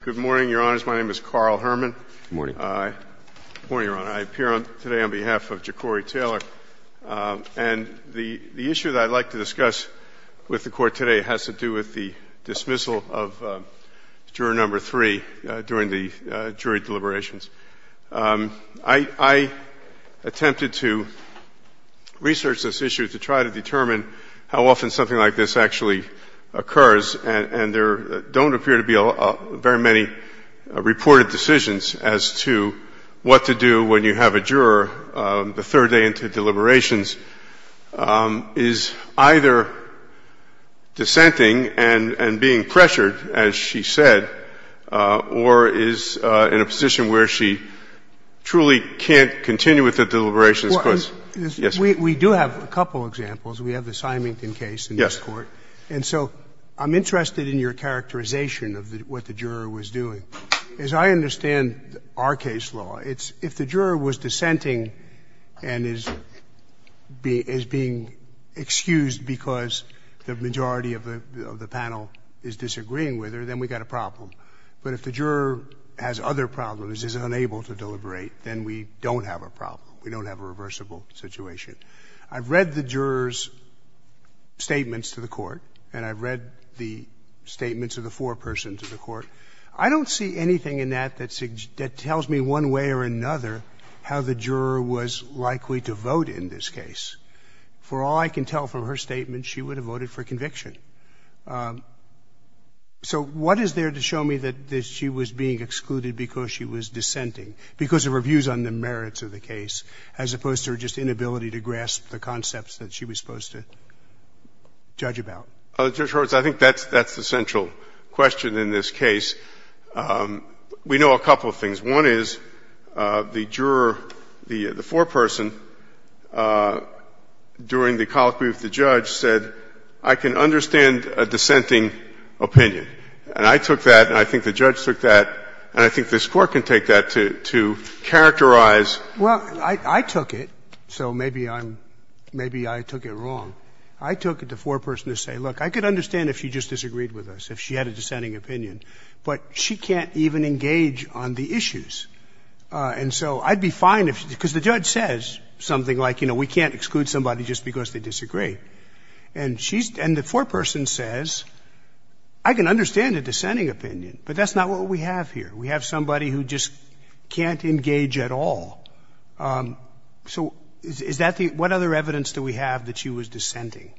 Good morning, Your Honors. My name is Carl Herman. Good morning. Good morning, Your Honor. I appear today on behalf of Jacorey Taylor. And the issue that I'd like to discuss with the Court today has to do with the dismissal of juror number three during the jury deliberations. I attempted to research this issue to try to determine how often something like this actually occurs, and there don't appear to be very many reported decisions as to what to do when you have a juror the third day into deliberations is either dissenting and being pressured, as she said, or is in a position where she truly can't continue with the deliberations because Yes. We do have a couple examples. We have the Symington case in this Court. Yes. And so I'm interested in your characterization of what the juror was doing. As I understand our case law, it's if the juror was dissenting and is being excused because the majority of the panel is disagreeing with her, then we've got a problem. But if the juror has other problems, is unable to deliberate, then we don't have a problem. We don't have a reversible situation. I've read the juror's statements to the Court, and I've read the statements of the foreperson to the Court. I don't see anything in that that tells me one way or another how the juror was likely to vote in this case. For all I can tell from her statement, she would have voted for conviction. So what is there to show me that she was being excluded because she was dissenting, because of her views on the merits of the case, as opposed to her just inability to grasp the concepts that she was supposed to judge about? Judge Horwitz, I think that's the central question in this case. We know a couple of things. One is the juror, the foreperson, during the colloquy with the judge said, I can understand a dissenting opinion. And I took that, and I think the judge took that, and I think this Court can take that to characterize. Well, I took it, so maybe I'm — maybe I took it wrong. I took it the foreperson to say, look, I could understand if she just disagreed with us, if she had a dissenting opinion. But she can't even engage on the issues. And so I'd be fine if — because the judge says something like, you know, we can't exclude somebody just because they disagree. And she's — and the foreperson says, I can understand a dissenting opinion, but that's not what we have here. We have somebody who just can't engage at all. So is that the — what other evidence do we have that she was dissenting?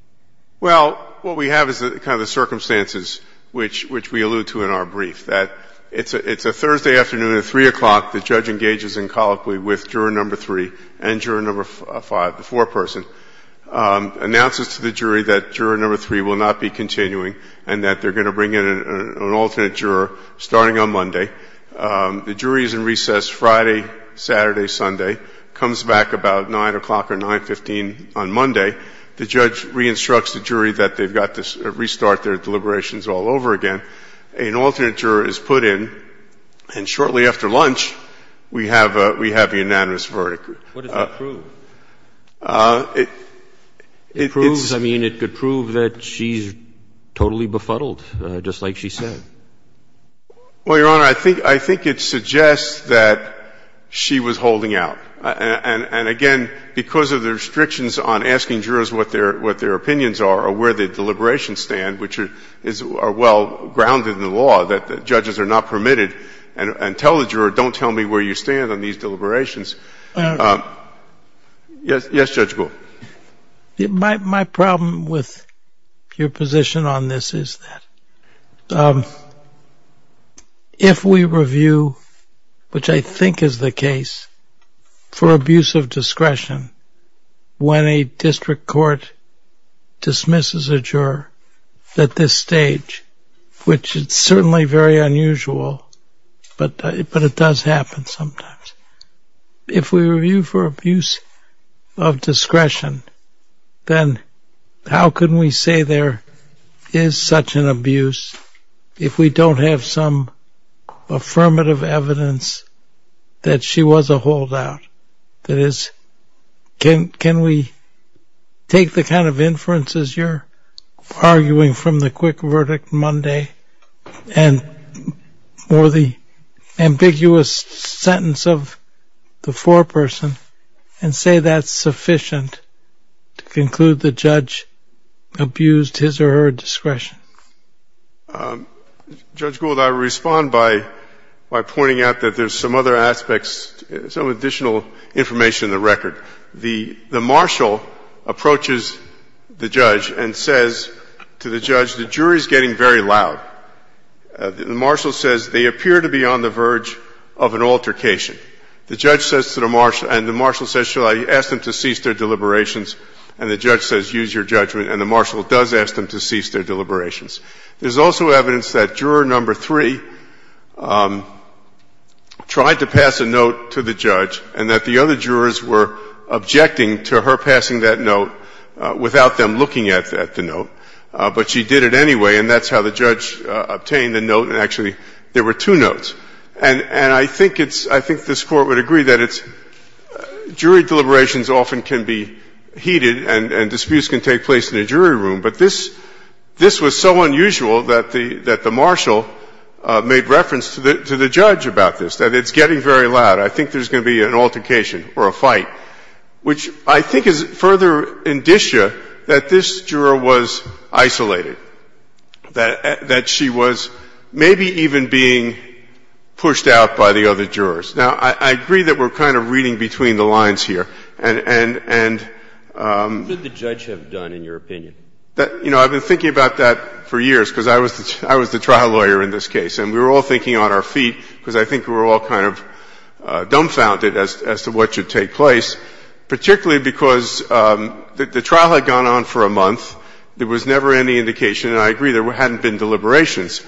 Well, what we have is kind of the circumstances which we allude to in our brief, that it's a Thursday afternoon at 3 o'clock, the judge engages in colloquy with juror number 3 and juror number 5, the foreperson, announces to the jury that juror number 3 will not be continuing and that they're going to bring in an alternate juror starting on Monday. The jury is in recess Friday, Saturday, Sunday, comes back about 9 o'clock or 9, 15 on Monday. The judge re-instructs the jury that they've got to restart their deliberations all over again. An alternate juror is put in. And shortly after lunch, we have a — we have a unanimous verdict. What does that prove? It's — It proves — I mean, it could prove that she's totally befuddled, just like she said. Well, Your Honor, I think — I think it suggests that she was holding out. And again, because of the restrictions on asking jurors what their — what their opinions are or where the deliberations stand, which are well grounded in the law, that judges are not permitted and tell the juror, don't tell me where you stand on these deliberations. Yes, Judge Gould. My problem with your position on this is that if we review, which I think is the case, for abuse of discretion, when a district court dismisses a juror at this stage, which is certainly very unusual, but it does happen sometimes, if we review for abuse of discretion, then how can we say there is such an abuse if we don't have some affirmative evidence that she was a holdout? That is, can we take the kind of inferences you're arguing from the quick verdict Monday and — or the ambiguous sentence of the foreperson and say that's sufficient to conclude the judge abused his or her discretion? Judge Gould, I respond by pointing out that there's some other aspects, some additional information in the record. The marshal approaches the judge and says to the judge, the jury is getting very loud. The marshal says they appear to be on the verge of an altercation. The judge says to the marshal — and the marshal says, shall I ask them to cease their deliberations? And the judge says, use your judgment. And the marshal does ask them to cease their deliberations. There's also evidence that juror number three tried to pass a note to the judge and that the other jurors were objecting to her passing that note without them looking at the note. But she did it anyway, and that's how the judge obtained the note. And actually, there were two notes. And I think it's — I think this Court would agree that it's — jury deliberations often can be heated and disputes can take place in a jury room, but this was so unusual that the marshal made reference to the judge about this, that it's getting very loud. I think there's going to be an altercation or a fight, which I think is further indicia that this juror was isolated, that she was maybe even being pushed out by the other jurors. Now, I agree that we're kind of reading between the lines here. And — And what did the judge have done, in your opinion? You know, I've been thinking about that for years, because I was the trial lawyer in this case. And we were all thinking on our feet, because I think we were all kind of dumbfounded as to what should take place, particularly because the trial had gone on for a month. There was never any indication, and I agree there hadn't been deliberations.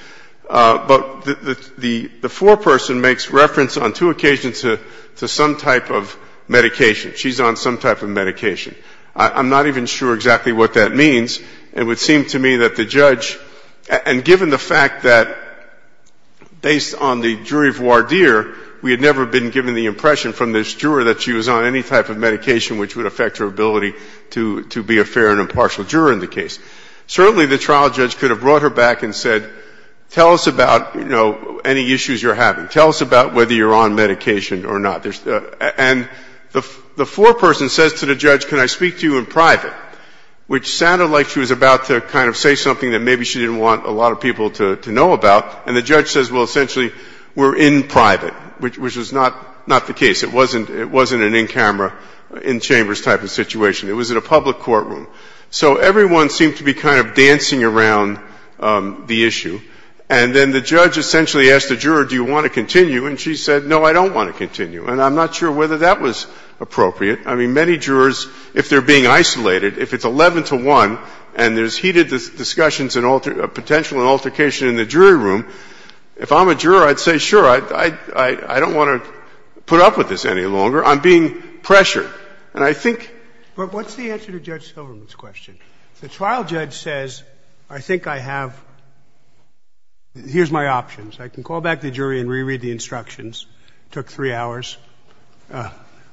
But the foreperson makes reference on two occasions to some type of medication. She's on some type of medication. I'm not even sure exactly what that means. It would seem to me that the judge — and given the fact that, based on the jury voir dire, we had never been given the impression from this juror that she was on any type of medication which would affect her ability to be a fair and impartial juror in the case. Certainly, the trial judge could have brought her back and said, tell us about, you know, any issues you're having. Tell us about whether you're on medication or not. And the foreperson says to the judge, can I speak to you in private, which sounded like she was about to kind of say something that maybe she didn't want a lot of people to know about. And the judge says, well, essentially, we're in private, which was not the case. It wasn't an in-camera, in-chambers type of situation. It was in a public courtroom. So everyone seemed to be kind of dancing around the issue. And then the judge essentially asked the juror, do you want to continue? And she said, no, I don't want to continue. And I'm not sure whether that was appropriate. I mean, many jurors, if they're being isolated, if it's 11 to 1 and there's heated discussions and potential altercation in the jury room, if I'm a juror, I'd say, sure, I don't want to put up with this any longer. I'm being pressured. And I think — The trial judge says, I think I have — here's my options. I can call back the jury and reread the instructions. It took three hours.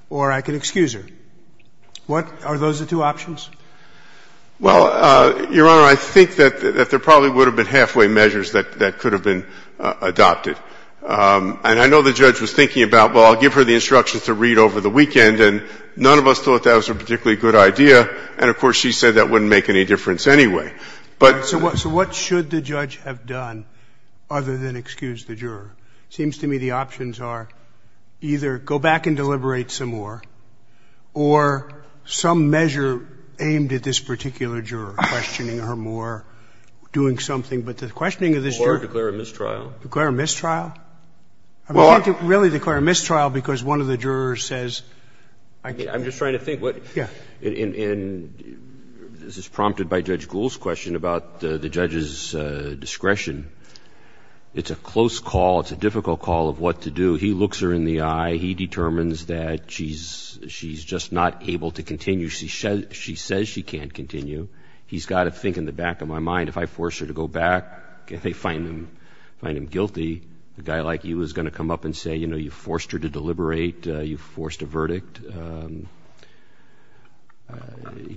Or I can excuse her. Are those the two options? Well, Your Honor, I think that there probably would have been halfway measures that could have been adopted. And I know the judge was thinking about, well, I'll give her the instructions to read over the weekend. And none of us thought that was a particularly good idea. And, of course, she said that wouldn't make any difference anyway. But — So what should the judge have done other than excuse the juror? It seems to me the options are either go back and deliberate some more or some measure aimed at this particular juror, questioning her more, doing something. But the questioning of this juror — Or declare a mistrial. Declare a mistrial? Well — I can't really declare a mistrial because one of the jurors says — I'm just trying to think what — Yes. And this is prompted by Judge Gould's question about the judge's discretion. It's a close call. It's a difficult call of what to do. He looks her in the eye. He determines that she's just not able to continue. She says she can't continue. He's got to think in the back of my mind, if I force her to go back, if they find him guilty, a guy like you is going to come up and say, you know, you forced her to deliberate. You forced a verdict.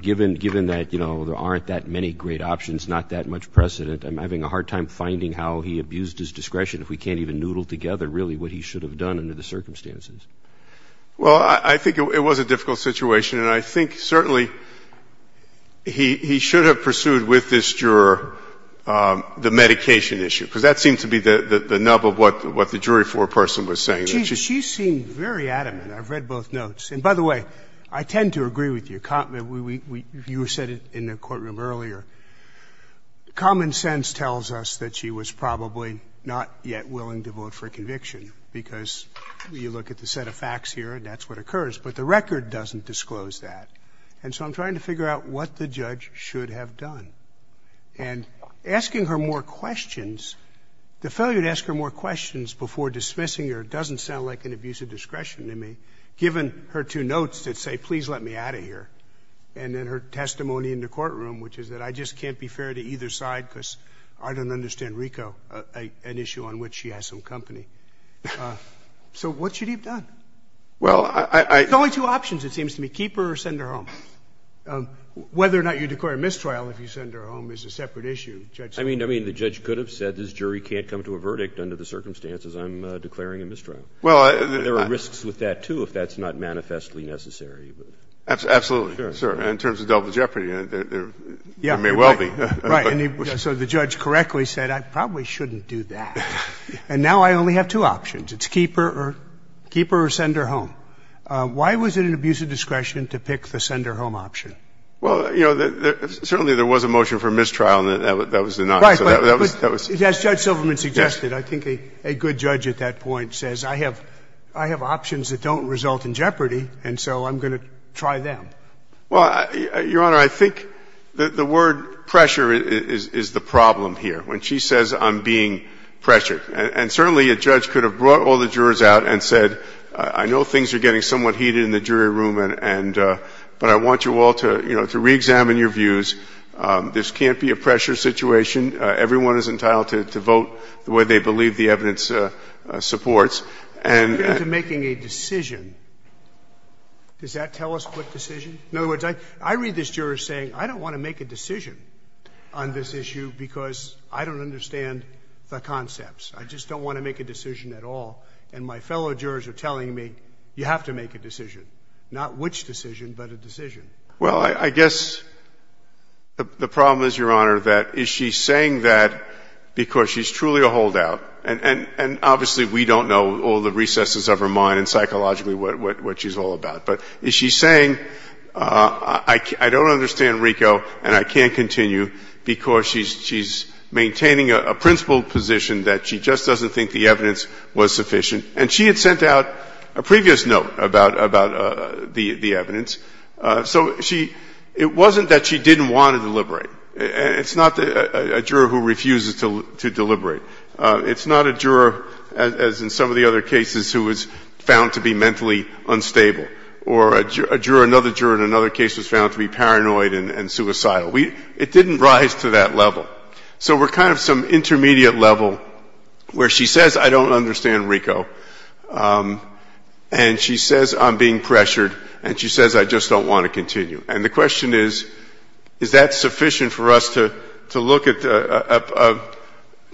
Given that, you know, there aren't that many great options, not that much precedent, I'm having a hard time finding how he abused his discretion if we can't even noodle together really what he should have done under the circumstances. Well, I think it was a difficult situation. And I think certainly he should have pursued with this juror the medication issue, because that seemed to be the nub of what the jury floor person was saying. She seemed very adamant. I've read both notes. And by the way, I tend to agree with you. You said it in the courtroom earlier. Common sense tells us that she was probably not yet willing to vote for a conviction because you look at the set of facts here and that's what occurs. But the record doesn't disclose that. And so I'm trying to figure out what the judge should have done. And asking her more questions, the failure to ask her more questions before dismissing doesn't sound like an abuse of discretion to me, given her two notes that say, please let me out of here, and then her testimony in the courtroom, which is that I just can't be fair to either side because I don't understand RICO, an issue on which she has some company. So what should he have done? Well, I — There's only two options, it seems to me, keep her or send her home. Whether or not you declare mistrial if you send her home is a separate issue. I mean, the judge could have said this jury can't come to a verdict under the There are risks with that, too, if that's not manifestly necessary. Absolutely. Sure. In terms of double jeopardy, there may well be. Right. So the judge correctly said, I probably shouldn't do that. And now I only have two options. It's keep her or send her home. Why was it an abuse of discretion to pick the send her home option? Right. As Judge Silverman suggested, I think a good judge at that point says, I have options that don't result in jeopardy, and so I'm going to try them. Well, Your Honor, I think the word pressure is the problem here. When she says, I'm being pressured. And certainly a judge could have brought all the jurors out and said, I know things are getting somewhat heated in the jury room, but I want you all to reexamine your views. This can't be a pressure situation. Everyone is entitled to vote the way they believe the evidence supports. As compared to making a decision, does that tell a split decision? In other words, I read this juror saying, I don't want to make a decision on this issue because I don't understand the concepts. I just don't want to make a decision at all. And my fellow jurors are telling me, you have to make a decision. Not which decision, but a decision. Well, I guess the problem is, Your Honor, that is she saying that because she's truly a holdout, and obviously we don't know all the recesses of her mind and psychologically what she's all about, but is she saying, I don't understand RICO and I can't continue because she's maintaining a principled position that she just doesn't think the evidence was sufficient. And she had sent out a previous note about the evidence. So it wasn't that she didn't want to deliberate. It's not a juror who refuses to deliberate. It's not a juror, as in some of the other cases, who was found to be mentally unstable. Or a juror, another juror in another case, was found to be paranoid and suicidal. It didn't rise to that level. So we're kind of some intermediate level where she says, I don't understand RICO. And she says, I'm being pressured, and she says, I just don't want to continue. And the question is, is that sufficient for us to look at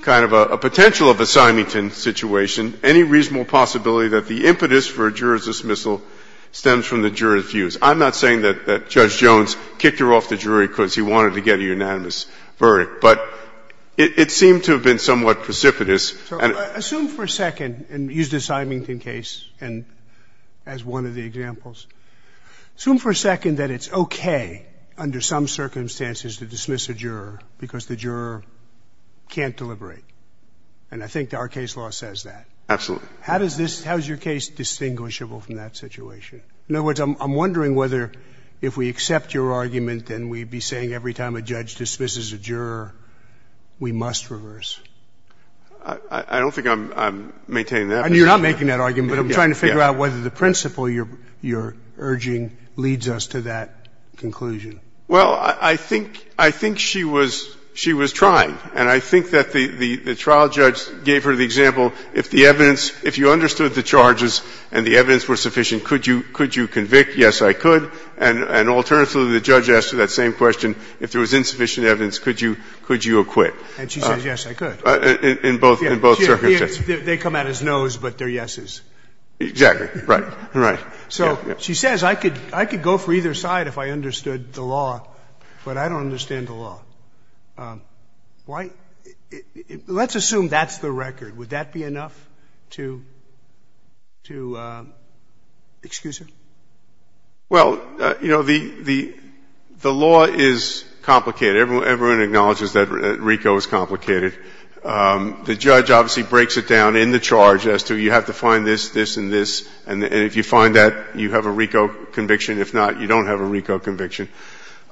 kind of a potential of a Symington situation, any reasonable possibility that the impetus for a juror's dismissal stems from the juror's views? I'm not saying that Judge Jones kicked her off the jury because he wanted to get a unanimous verdict, but it seemed to have been somewhat precipitous. So assume for a second, and use the Symington case as one of the examples, assume for a second that it's okay under some circumstances to dismiss a juror because the juror can't deliberate. And I think our case law says that. Absolutely. How is your case distinguishable from that situation? In other words, I'm wondering whether if we accept your argument, then we'd be saying every time a judge dismisses a juror, we must reverse. I don't think I'm maintaining that position. You're not making that argument, but I'm trying to figure out whether the principle you're urging leads us to that conclusion. Well, I think she was trying. And I think that the trial judge gave her the example, if the evidence, if you understood the charges and the evidence were sufficient, could you convict? Yes, I could. And alternatively, the judge asked her that same question. If there was insufficient evidence, could you acquit? And she says, yes, I could. In both circumstances. They come out of his nose, but they're yeses. Exactly. Right. Right. So she says, I could go for either side if I understood the law, but I don't understand the law. Why? Let's assume that's the record. Would that be enough to excuse her? Well, you know, the law is complicated. Everyone acknowledges that RICO is complicated. The judge obviously breaks it down in the charge as to you have to find this, this, and this, and if you find that, you have a RICO conviction. If not, you don't have a RICO conviction.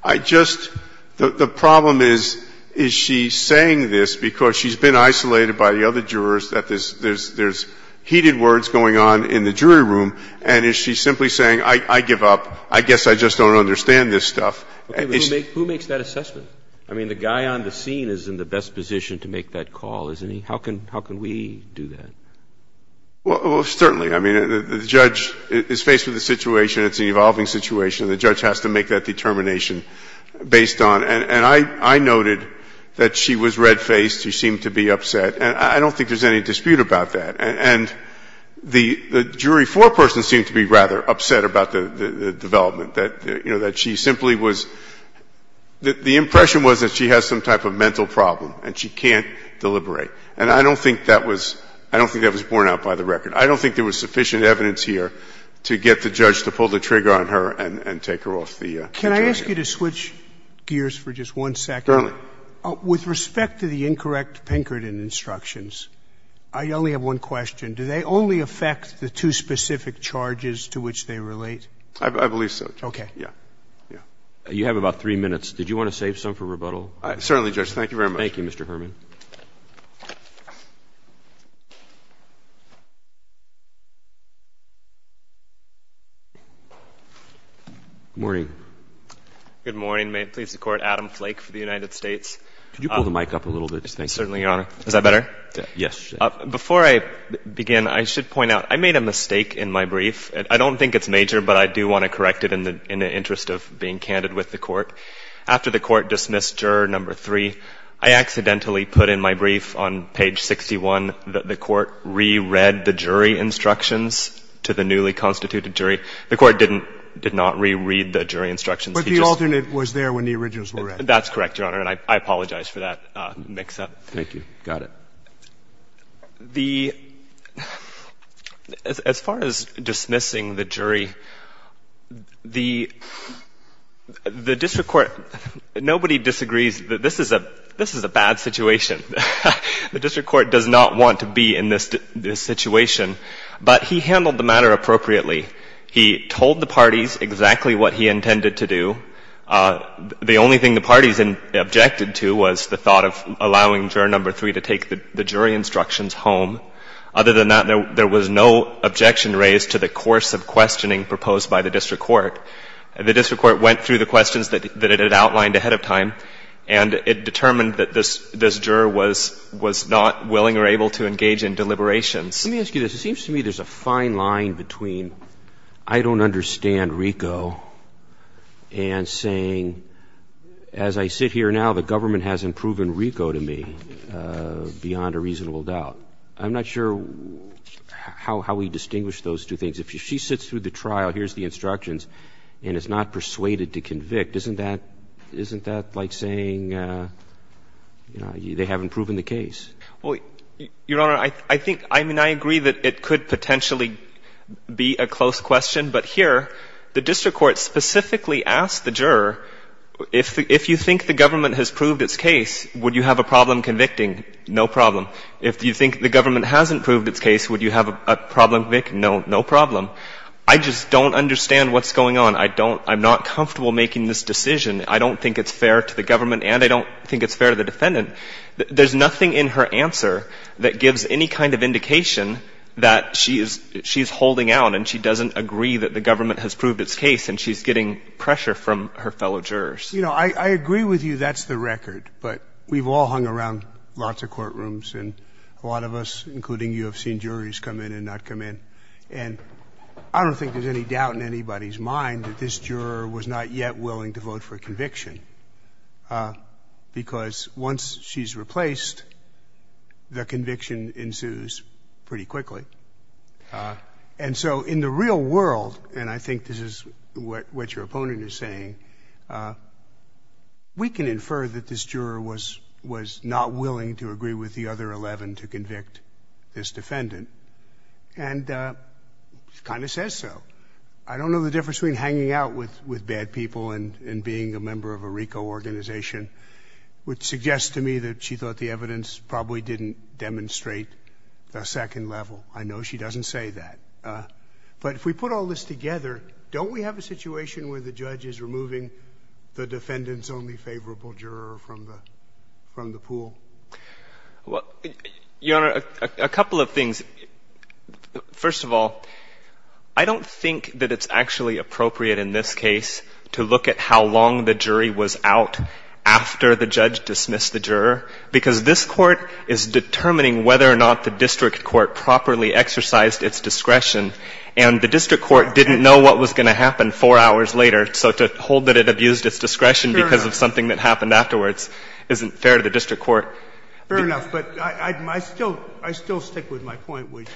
I just – the problem is, is she saying this because she's been isolated by the other jurors that there's heated words going on in the jury room, and is she simply saying, I give up. I guess I just don't understand this stuff. Okay. But who makes that assessment? I mean, the guy on the scene is in the best position to make that call, isn't he? How can we do that? Well, certainly. I mean, the judge is faced with a situation. It's an evolving situation. The judge has to make that determination based on – and I noted that she was red-faced. She seemed to be upset. And I don't think there's any dispute about that. And the jury foreperson seemed to be rather upset about the development, that, you know, the impression was that she has some type of mental problem and she can't deliberate. And I don't think that was – I don't think that was borne out by the record. I don't think there was sufficient evidence here to get the judge to pull the trigger on her and take her off the jury. Can I ask you to switch gears for just one second? Certainly. With respect to the incorrect Pinkerton instructions, I only have one question. Do they only affect the two specific charges to which they relate? I believe so, Judge. Okay. Yeah. Yeah. You have about three minutes. Did you want to save some for rebuttal? Certainly, Judge. Thank you very much. Thank you, Mr. Herman. Good morning. Good morning. May it please the Court, Adam Flake for the United States. Could you pull the mic up a little bit? Certainly, Your Honor. Is that better? Yes. Before I begin, I should point out, I made a mistake in my brief. I don't think it's major, but I do want to correct it in the interest of being candid with the Court. After the Court dismissed Juror No. 3, I accidentally put in my brief on page 61 that the Court re-read the jury instructions to the newly constituted jury. The Court didn't, did not re-read the jury instructions. But the alternate was there when the originals were read. That's correct, Your Honor, and I apologize for that mix-up. Thank you. Got it. As far as dismissing the jury, the district court, nobody disagrees that this is a bad situation. The district court does not want to be in this situation. But he handled the matter appropriately. He told the parties exactly what he intended to do. The only thing the parties objected to was the thought of allowing Juror No. 3 to take the jury instructions home. Other than that, there was no objection raised to the course of questioning proposed by the district court. The district court went through the questions that it had outlined ahead of time, and it determined that this juror was not willing or able to engage in deliberations. Let me ask you this. It seems to me there's a fine line between I don't understand RICO and saying as I sit here now the government hasn't proven RICO to me beyond a reasonable doubt. I'm not sure how we distinguish those two things. If she sits through the trial, hears the instructions, and is not persuaded to convict, isn't that like saying, you know, they haven't proven the case? Well, Your Honor, I think, I mean, I agree that it could potentially be a close question. But here, the district court specifically asked the juror, if you think the government has proved its case, would you have a problem convicting? No problem. If you think the government hasn't proved its case, would you have a problem convicting? No, no problem. I just don't understand what's going on. I don't, I'm not comfortable making this decision. I don't think it's fair to the government, and I don't think it's fair to the defendant. There's nothing in her answer that gives any kind of indication that she is, she is agree that the government has proved its case, and she's getting pressure from her fellow jurors. You know, I agree with you, that's the record. But we've all hung around lots of courtrooms, and a lot of us, including you, have seen juries come in and not come in. And I don't think there's any doubt in anybody's mind that this juror was not yet willing to vote for conviction. Because once she's replaced, the conviction ensues pretty quickly. And so in the real world, and I think this is what your opponent is saying, we can infer that this juror was not willing to agree with the other 11 to convict this defendant. And she kind of says so. I don't know the difference between hanging out with bad people and being a member of a RICO organization, which suggests to me that she thought the evidence probably didn't demonstrate the second level. I know she doesn't say that. But if we put all this together, don't we have a situation where the judge is removing the defendant's only favorable juror from the pool? Well, Your Honor, a couple of things. First of all, I don't think that it's actually appropriate in this case to look at how long the jury was out after the judge dismissed the juror, because this Court is determining whether or not the district court properly exercised its discretion. And the district court didn't know what was going to happen four hours later. So to hold that it abused its discretion because of something that happened afterwards isn't fair to the district court. Fair enough. But I still stick with my point, which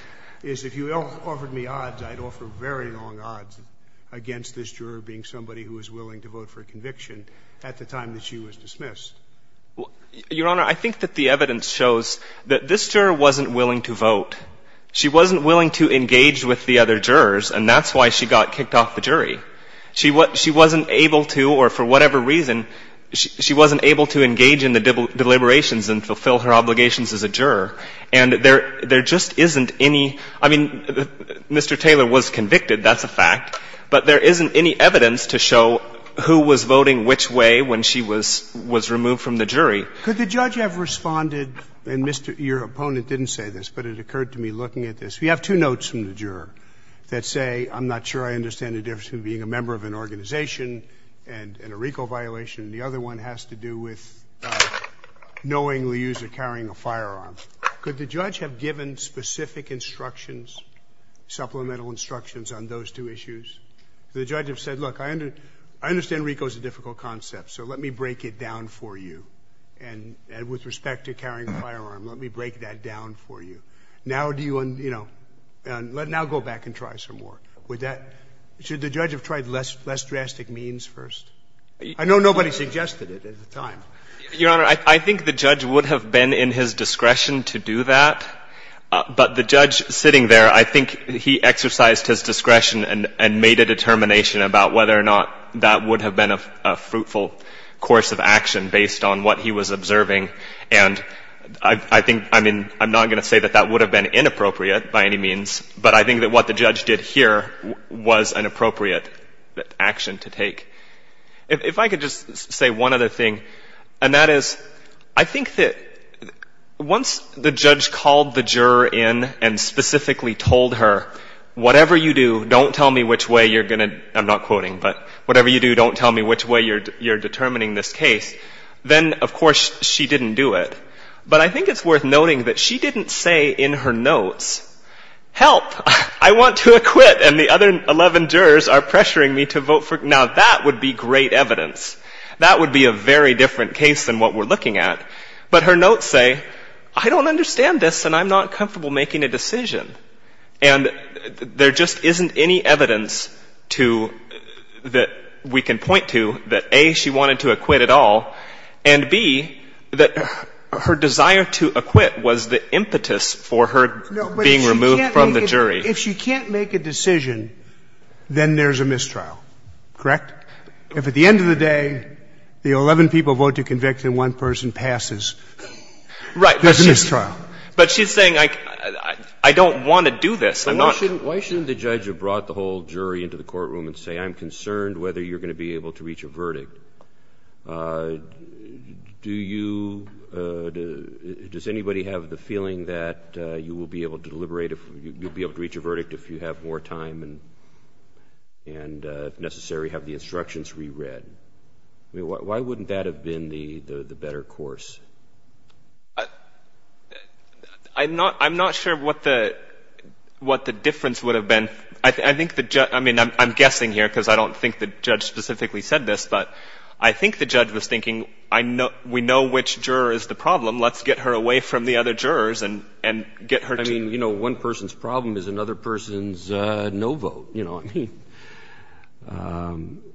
is if you offered me odds, I'd offer very long duration at the time that she was dismissed. Your Honor, I think that the evidence shows that this juror wasn't willing to vote. She wasn't willing to engage with the other jurors, and that's why she got kicked off the jury. She wasn't able to, or for whatever reason, she wasn't able to engage in the deliberations and fulfill her obligations as a juror. And there just isn't any — I mean, Mr. Taylor was convicted. That's a fact. But there isn't any evidence to show who was voting which way when she was removed from the jury. Could the judge have responded — and, Mr. — your opponent didn't say this, but it occurred to me looking at this. We have two notes from the juror that say, I'm not sure I understand the difference between being a member of an organization and a RICO violation, and the other one has to do with knowingly using or carrying a firearm. Could the judge have given specific instructions, supplemental instructions on those two issues? The judge have said, look, I understand RICO is a difficult concept, so let me break it down for you. And with respect to carrying a firearm, let me break that down for you. Now do you — you know, now go back and try some more. Would that — should the judge have tried less drastic means first? I know nobody suggested it at the time. Your Honor, I think the judge would have been in his discretion to do that, but the judge would have been in his discretion and made a determination about whether or not that would have been a fruitful course of action based on what he was observing. And I think — I mean, I'm not going to say that that would have been inappropriate by any means, but I think that what the judge did here was an appropriate action to take. If I could just say one other thing, and that is, I think that once the judge called the juror in and specifically told her, whatever you do, don't tell me which way you're going to — I'm not quoting, but whatever you do, don't tell me which way you're determining this case, then, of course, she didn't do it. But I think it's worth noting that she didn't say in her notes, help, I want to acquit, and the other 11 jurors are pressuring me to vote for — now, that would be great evidence. That would be a very different case than what we're looking at. But her notes say, I don't understand this and I'm not comfortable making a decision. And there just isn't any evidence to — that we can point to that, A, she wanted to acquit at all, and, B, that her desire to acquit was the impetus for her being No, but if she can't make — if she can't make a decision, then there's a mistrial. Correct? If at the end of the day, the 11 people vote to convict and one person passes, there's a mistrial. Right. But she's saying, I don't want to do this. I'm not — Why shouldn't the judge have brought the whole jury into the courtroom and say, I'm concerned whether you're going to be able to reach a verdict? Do you — does anybody have the feeling that you will be able to deliberate re-read? I mean, why wouldn't that have been the better course? I'm not — I'm not sure what the difference would have been. I think the — I mean, I'm guessing here because I don't think the judge specifically said this, but I think the judge was thinking, we know which juror is the problem. Let's get her away from the other jurors and get her to — I mean, you know, one person's problem is another person's no vote. You know, I mean,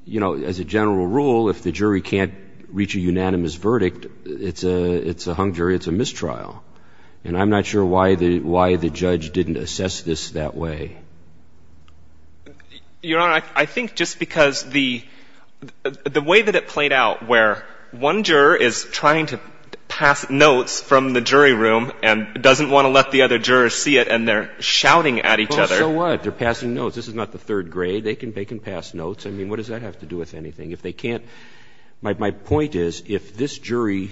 you know, as a general rule, if the jury can't reach a unanimous verdict, it's a — it's a hung jury, it's a mistrial. And I'm not sure why the — why the judge didn't assess this that way. Your Honor, I think just because the — the way that it played out where one juror is trying to pass notes from the jury room and doesn't want to let the other jurors see it and they're shouting at each other — Well, so what? They're passing notes. This is not the third grade. They can — they can pass notes. I mean, what does that have to do with anything? If they can't — my point is, if this jury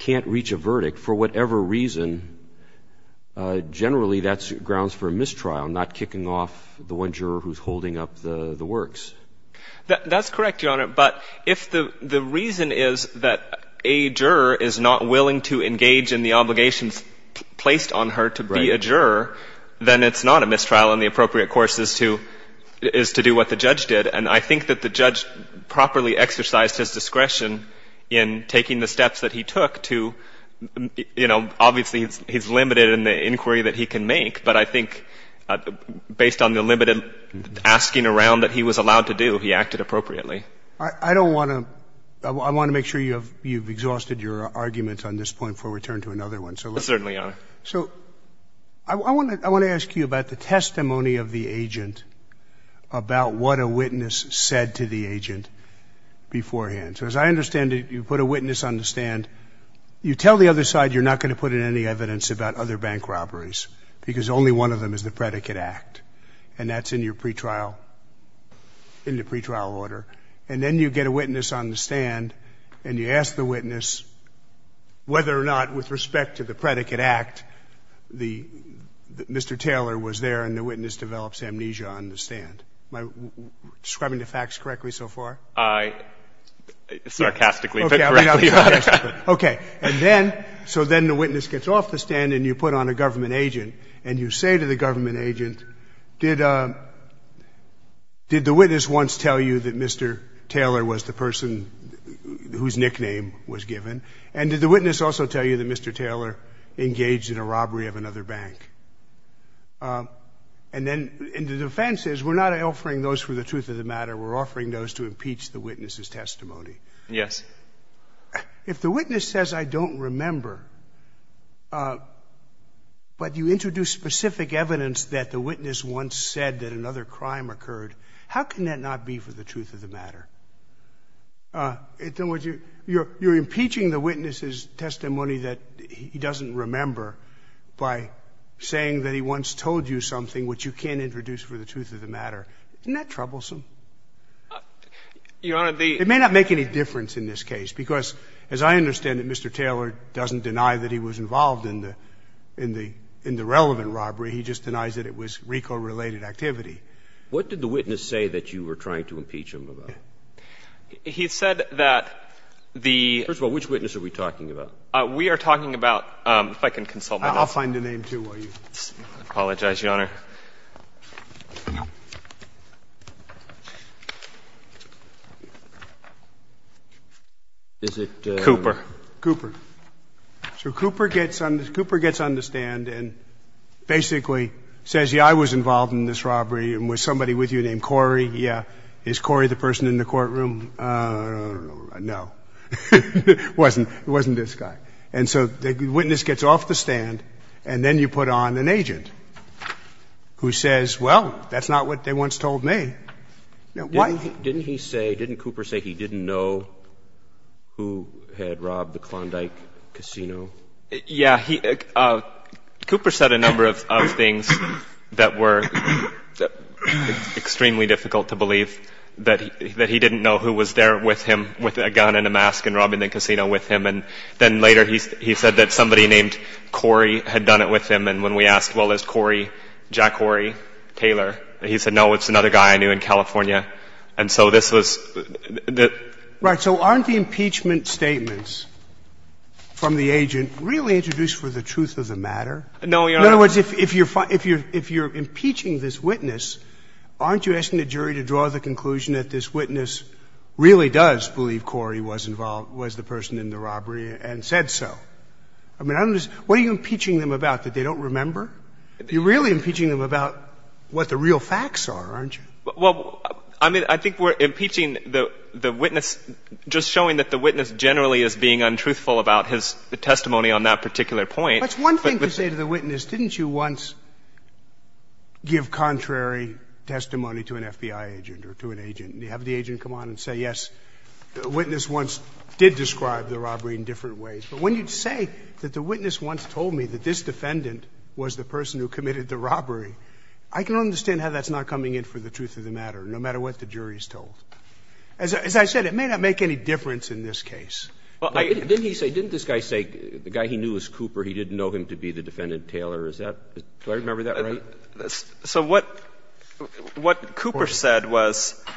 can't reach a verdict for whatever reason, generally that grounds for a mistrial, not kicking off the one juror who's holding up the works. That's correct, Your Honor. But if the reason is that a juror is not willing to engage in the obligations placed on her to be a juror, then it's not a mistrial and the appropriate course is to — is to do what the judge did. And I think that the judge properly exercised his discretion in taking the steps that he took to — you know, obviously he's limited in the inquiry that he can make, but I think based on the limited asking around that he was allowed to do, he acted appropriately. I don't want to — I want to make sure you have — you've exhausted your arguments on this point before we turn to another one, so let's — Certainly, Your Honor. So I want to — I want to ask you about the testimony of the agent about what a witness said to the agent beforehand. So as I understand it, you put a witness on the stand, you tell the other side you're not going to put in any evidence about other bank robberies because only one of them is the predicate act, and that's in your pretrial — in the pretrial order. And then you get a witness on the stand and you ask the witness whether or not, with respect to the predicate act, the — Mr. Taylor was there and the witness develops amnesia on the stand. Am I describing the facts correctly so far? I — sarcastically. Okay. Okay. And then — so then the witness gets off the stand and you put on a government agent and you say to the government agent, did — did the witness once tell you that Mr. Taylor was the person whose nickname was given? And did the witness also tell you that Mr. Taylor engaged in a robbery of another bank? And then — and the defense says, we're not offering those for the truth of the matter, we're offering those to impeach the witness's testimony. Yes. If the witness says, I don't remember, but you introduce specific evidence that the witness once said that another crime occurred, how can that not be for the truth of the matter? In other words, you're impeaching the witness's testimony that he doesn't remember by saying that he once told you something which you can't introduce for the truth of the matter. Isn't that troublesome? Your Honor, the — It may not make any difference in this case because, as I understand it, Mr. Taylor doesn't deny that he was involved in the — in the — in the relevant robbery, he just denies that it was RICO-related activity. What did the witness say that you were trying to impeach him about? He said that the — First of all, which witness are we talking about? We are talking about — if I can consult my notes. I'll find a name, too, while you — I apologize, Your Honor. Is it — Cooper. Cooper. So Cooper gets on — Cooper gets on the stand and basically says, yeah, I was involved in this robbery, and was somebody with you named Corey? Yeah. Is Corey the person in the courtroom? No. It wasn't. It wasn't this guy. And so the witness gets off the stand, and then you put on an agent who says, well, that's not what they once told me. Now, why — Didn't he say — didn't Cooper say he didn't know who had robbed the Klondike Casino? Yeah. He — Cooper said a number of things that were extremely difficult to believe, that he didn't know who was there with him, with a gun and a mask, and robbing the casino with him. And then later he said that somebody named Corey had done it with him. And when we asked, well, is Corey Jack Corey Taylor? And he said, no, it's another guy I knew in California. And so this was — Right. So aren't the impeachment statements from the agent really introduced for the truth of the matter? No, Your Honor. In other words, if you're impeaching this witness, aren't you asking the jury to draw the conclusion that this witness really does believe Corey was involved — was the person in the robbery and said so? I mean, what are you impeaching them about, that they don't remember? You're really impeaching them about what the real facts are, aren't you? Well, I mean, I think we're impeaching the witness, just showing that the witness generally is being untruthful about his testimony on that particular point. That's one thing to say to the witness, didn't you once give contrary testimony to an FBI agent or to an agent, and you have the agent come on and say, yes, the witness once did describe the robbery in different ways. But when you say that the witness once told me that this defendant was the person who committed the robbery, I can understand how that's not coming in for the truth of the matter, no matter what the jury is told. As I said, it may not make any difference in this case. Didn't he say — didn't this guy say the guy he knew was Cooper, he didn't know him to be the defendant Taylor? Is that — do I remember that right? So what Cooper said was —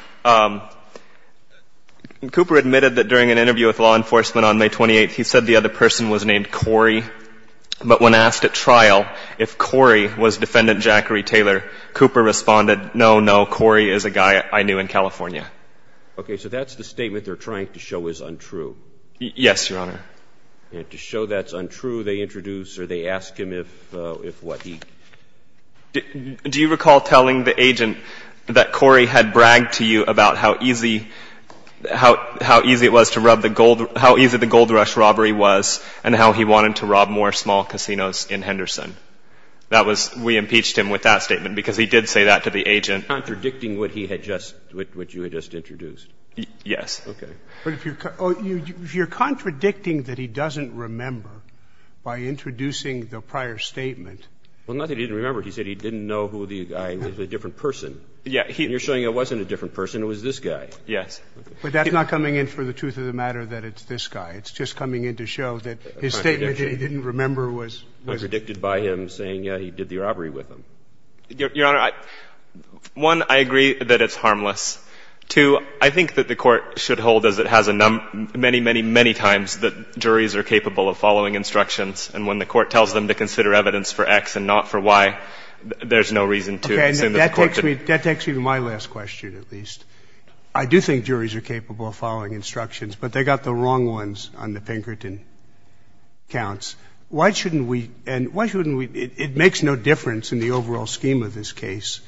Cooper admitted that during an interview with law enforcement on May 28th, he said the other person was named Corey. But when asked at trial if Corey was defendant Jackery Taylor, Cooper responded, no, no, Corey is a guy I knew in California. Okay. So that's the statement they're trying to show is untrue. Yes, Your Honor. And to show that's untrue, they introduce or they ask him if what he — Do you recall telling the agent that Corey had bragged to you about how easy — how easy the Gold Rush robbery was and how he wanted to rob more small casinos in Henderson? That was — we impeached him with that statement because he did say that to the agent. You're contradicting what he had just — what you had just introduced. Yes. Okay. But if you're — oh, you're contradicting that he doesn't remember by introducing the prior statement. Well, not that he didn't remember. He said he didn't know who the guy — it was a different person. Yeah. And you're showing it wasn't a different person. It was this guy. Yes. But that's not coming in for the truth of the matter that it's this guy. It's just coming in to show that his statement that he didn't remember was — It was predicted by him saying he did the robbery with him. Your Honor, one, I agree that it's harmless. Two, I think that the Court should hold, as it has many, many, many times, that juries are capable of following instructions, and when the Court tells them to consider evidence for X and not for Y, there's no reason to assume that the Court should — Okay. I do think juries are capable of following instructions, but they got the wrong ones on the Pinkerton counts. Why shouldn't we — and why shouldn't we — it makes no difference in the overall scheme of this case.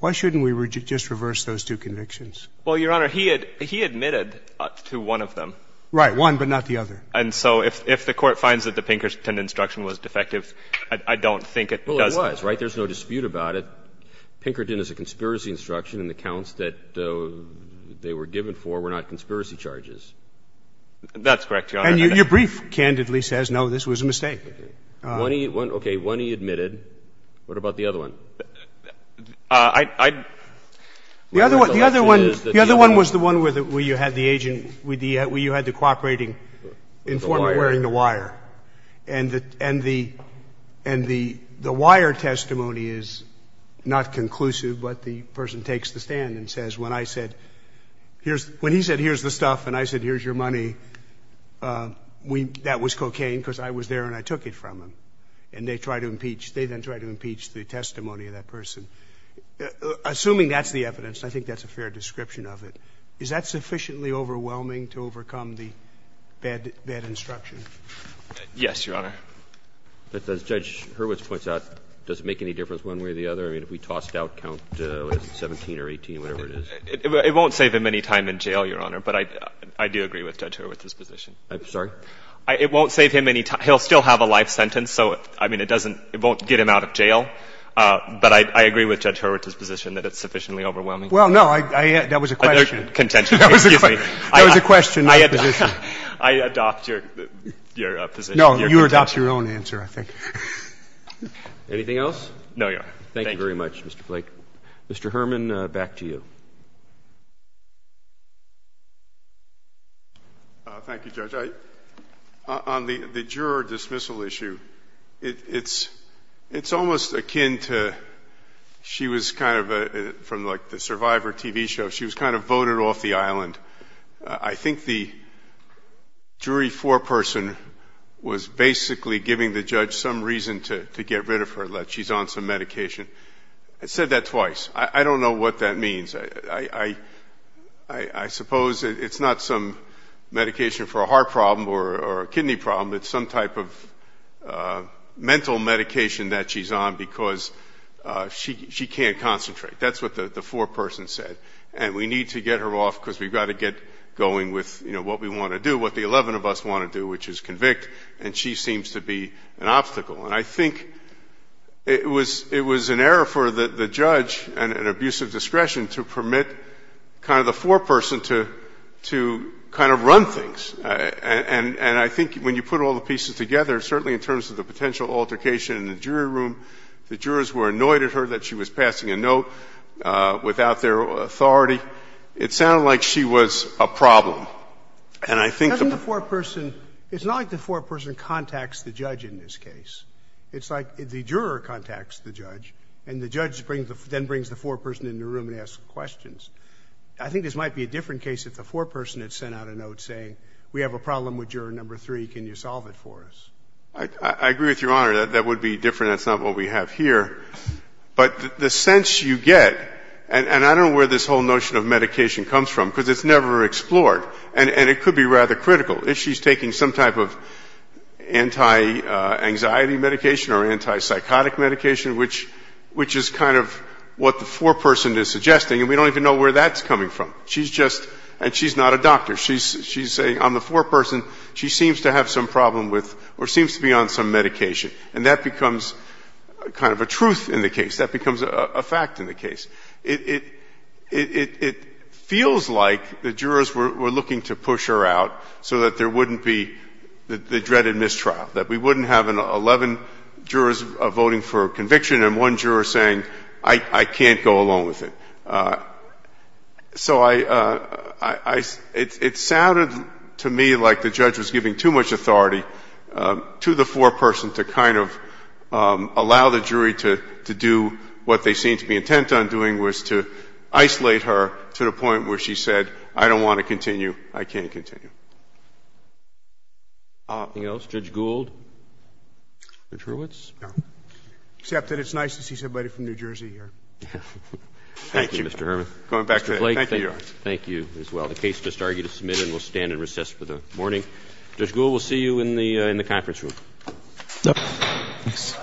Why shouldn't we just reverse those two convictions? Well, Your Honor, he admitted to one of them. Right. One, but not the other. And so if the Court finds that the Pinkerton instruction was defective, I don't think it does that. Well, it was, right? There's no dispute about it. Pinkerton is a conspiracy instruction, and the counts that they were given for were not conspiracy charges. That's correct, Your Honor. And your brief, candidly, says, no, this was a mistake. Okay. One he — okay, one he admitted. What about the other one? I — the other one — the other one was the one where you had the agent — where you had the cooperating informant wearing the wire. The wire. The wire testimony is not conclusive, but the person takes the stand and says, when I said — when he said, here's the stuff, and I said, here's your money, we — that was cocaine because I was there and I took it from him. And they try to impeach — they then try to impeach the testimony of that person. Assuming that's the evidence, and I think that's a fair description of it, is that sufficiently overwhelming to overcome the bad — bad instruction? Yes, Your Honor. But as Judge Hurwitz points out, does it make any difference one way or the other? I mean, if we toss it out, count, what is it, 17 or 18, whatever it is. It won't save him any time in jail, Your Honor, but I do agree with Judge Hurwitz's position. I'm sorry? It won't save him any — he'll still have a life sentence, so, I mean, it doesn't — it won't get him out of jail, but I agree with Judge Hurwitz's position that it's sufficiently overwhelming. Well, no, I — that was a question. Contention. That was a question. Excuse me. That was a question, not a position. I adopt your — your position. No, you adopt your own answer, I think. Anything else? No, Your Honor. Thank you. Thank you very much, Mr. Flake. Mr. Herman, back to you. Thank you, Judge. On the juror dismissal issue, it's — it's almost akin to — she was kind of a — from like the Survivor TV show, she was kind of voted off the island. I think the jury foreperson was basically giving the judge some reason to get rid of her, that she's on some medication. I said that twice. I don't know what that means. I suppose it's not some medication for a heart problem or a kidney problem. It's some type of mental medication that she's on because she can't concentrate. That's what the foreperson said. And we need to get her off because we've got to get going with, you know, what we want to do, what the 11 of us want to do, which is convict, and she seems to be an obstacle. And I think it was — it was an error for the judge and an abuse of discretion to permit kind of the foreperson to — to kind of run things. And I think when you put all the pieces together, certainly in terms of the potential altercation in the jury room, the jurors were annoyed at her that she was passing a note without their authority. It sounded like she was a problem. And I think the — Doesn't the foreperson — it's not like the foreperson contacts the judge in this case. It's like the juror contacts the judge, and the judge brings the — then brings the foreperson in the room and asks questions. I think this might be a different case if the foreperson had sent out a note saying we have a problem with juror number three. Can you solve it for us? I agree with Your Honor. That would be different. That's not what we have here. But the sense you get — and I don't know where this whole notion of medication comes from, because it's never explored. And it could be rather critical. If she's taking some type of anti-anxiety medication or anti-psychotic medication, which is kind of what the foreperson is suggesting, and we don't even know where that's coming from. She's just — and she's not a doctor. She's saying on the foreperson, she seems to have some problem with — or seems to be on some medication. And that becomes kind of a truth in the case. That becomes a fact in the case. It feels like the jurors were looking to push her out so that there wouldn't be the dreaded mistrial, that we wouldn't have 11 jurors voting for conviction and one juror saying, I can't go along with it. So I — it sounded to me like the judge was giving too much authority to the foreperson to kind of allow the jury to do what they seemed to be intent on doing, was to isolate her to the point where she said, I don't want to continue, I can't continue. Roberts. Anything else? Judge Gould? Judge Hurwitz? No. Except that it's nice to see somebody from New Jersey here. Thank you. Thank you, Mr. Herman. Going back to that. Thank you, Your Honor. Thank you as well. The case just argued is submitted and we'll stand and recess for the morning. Judge Gould, we'll see you in the conference room. Thanks.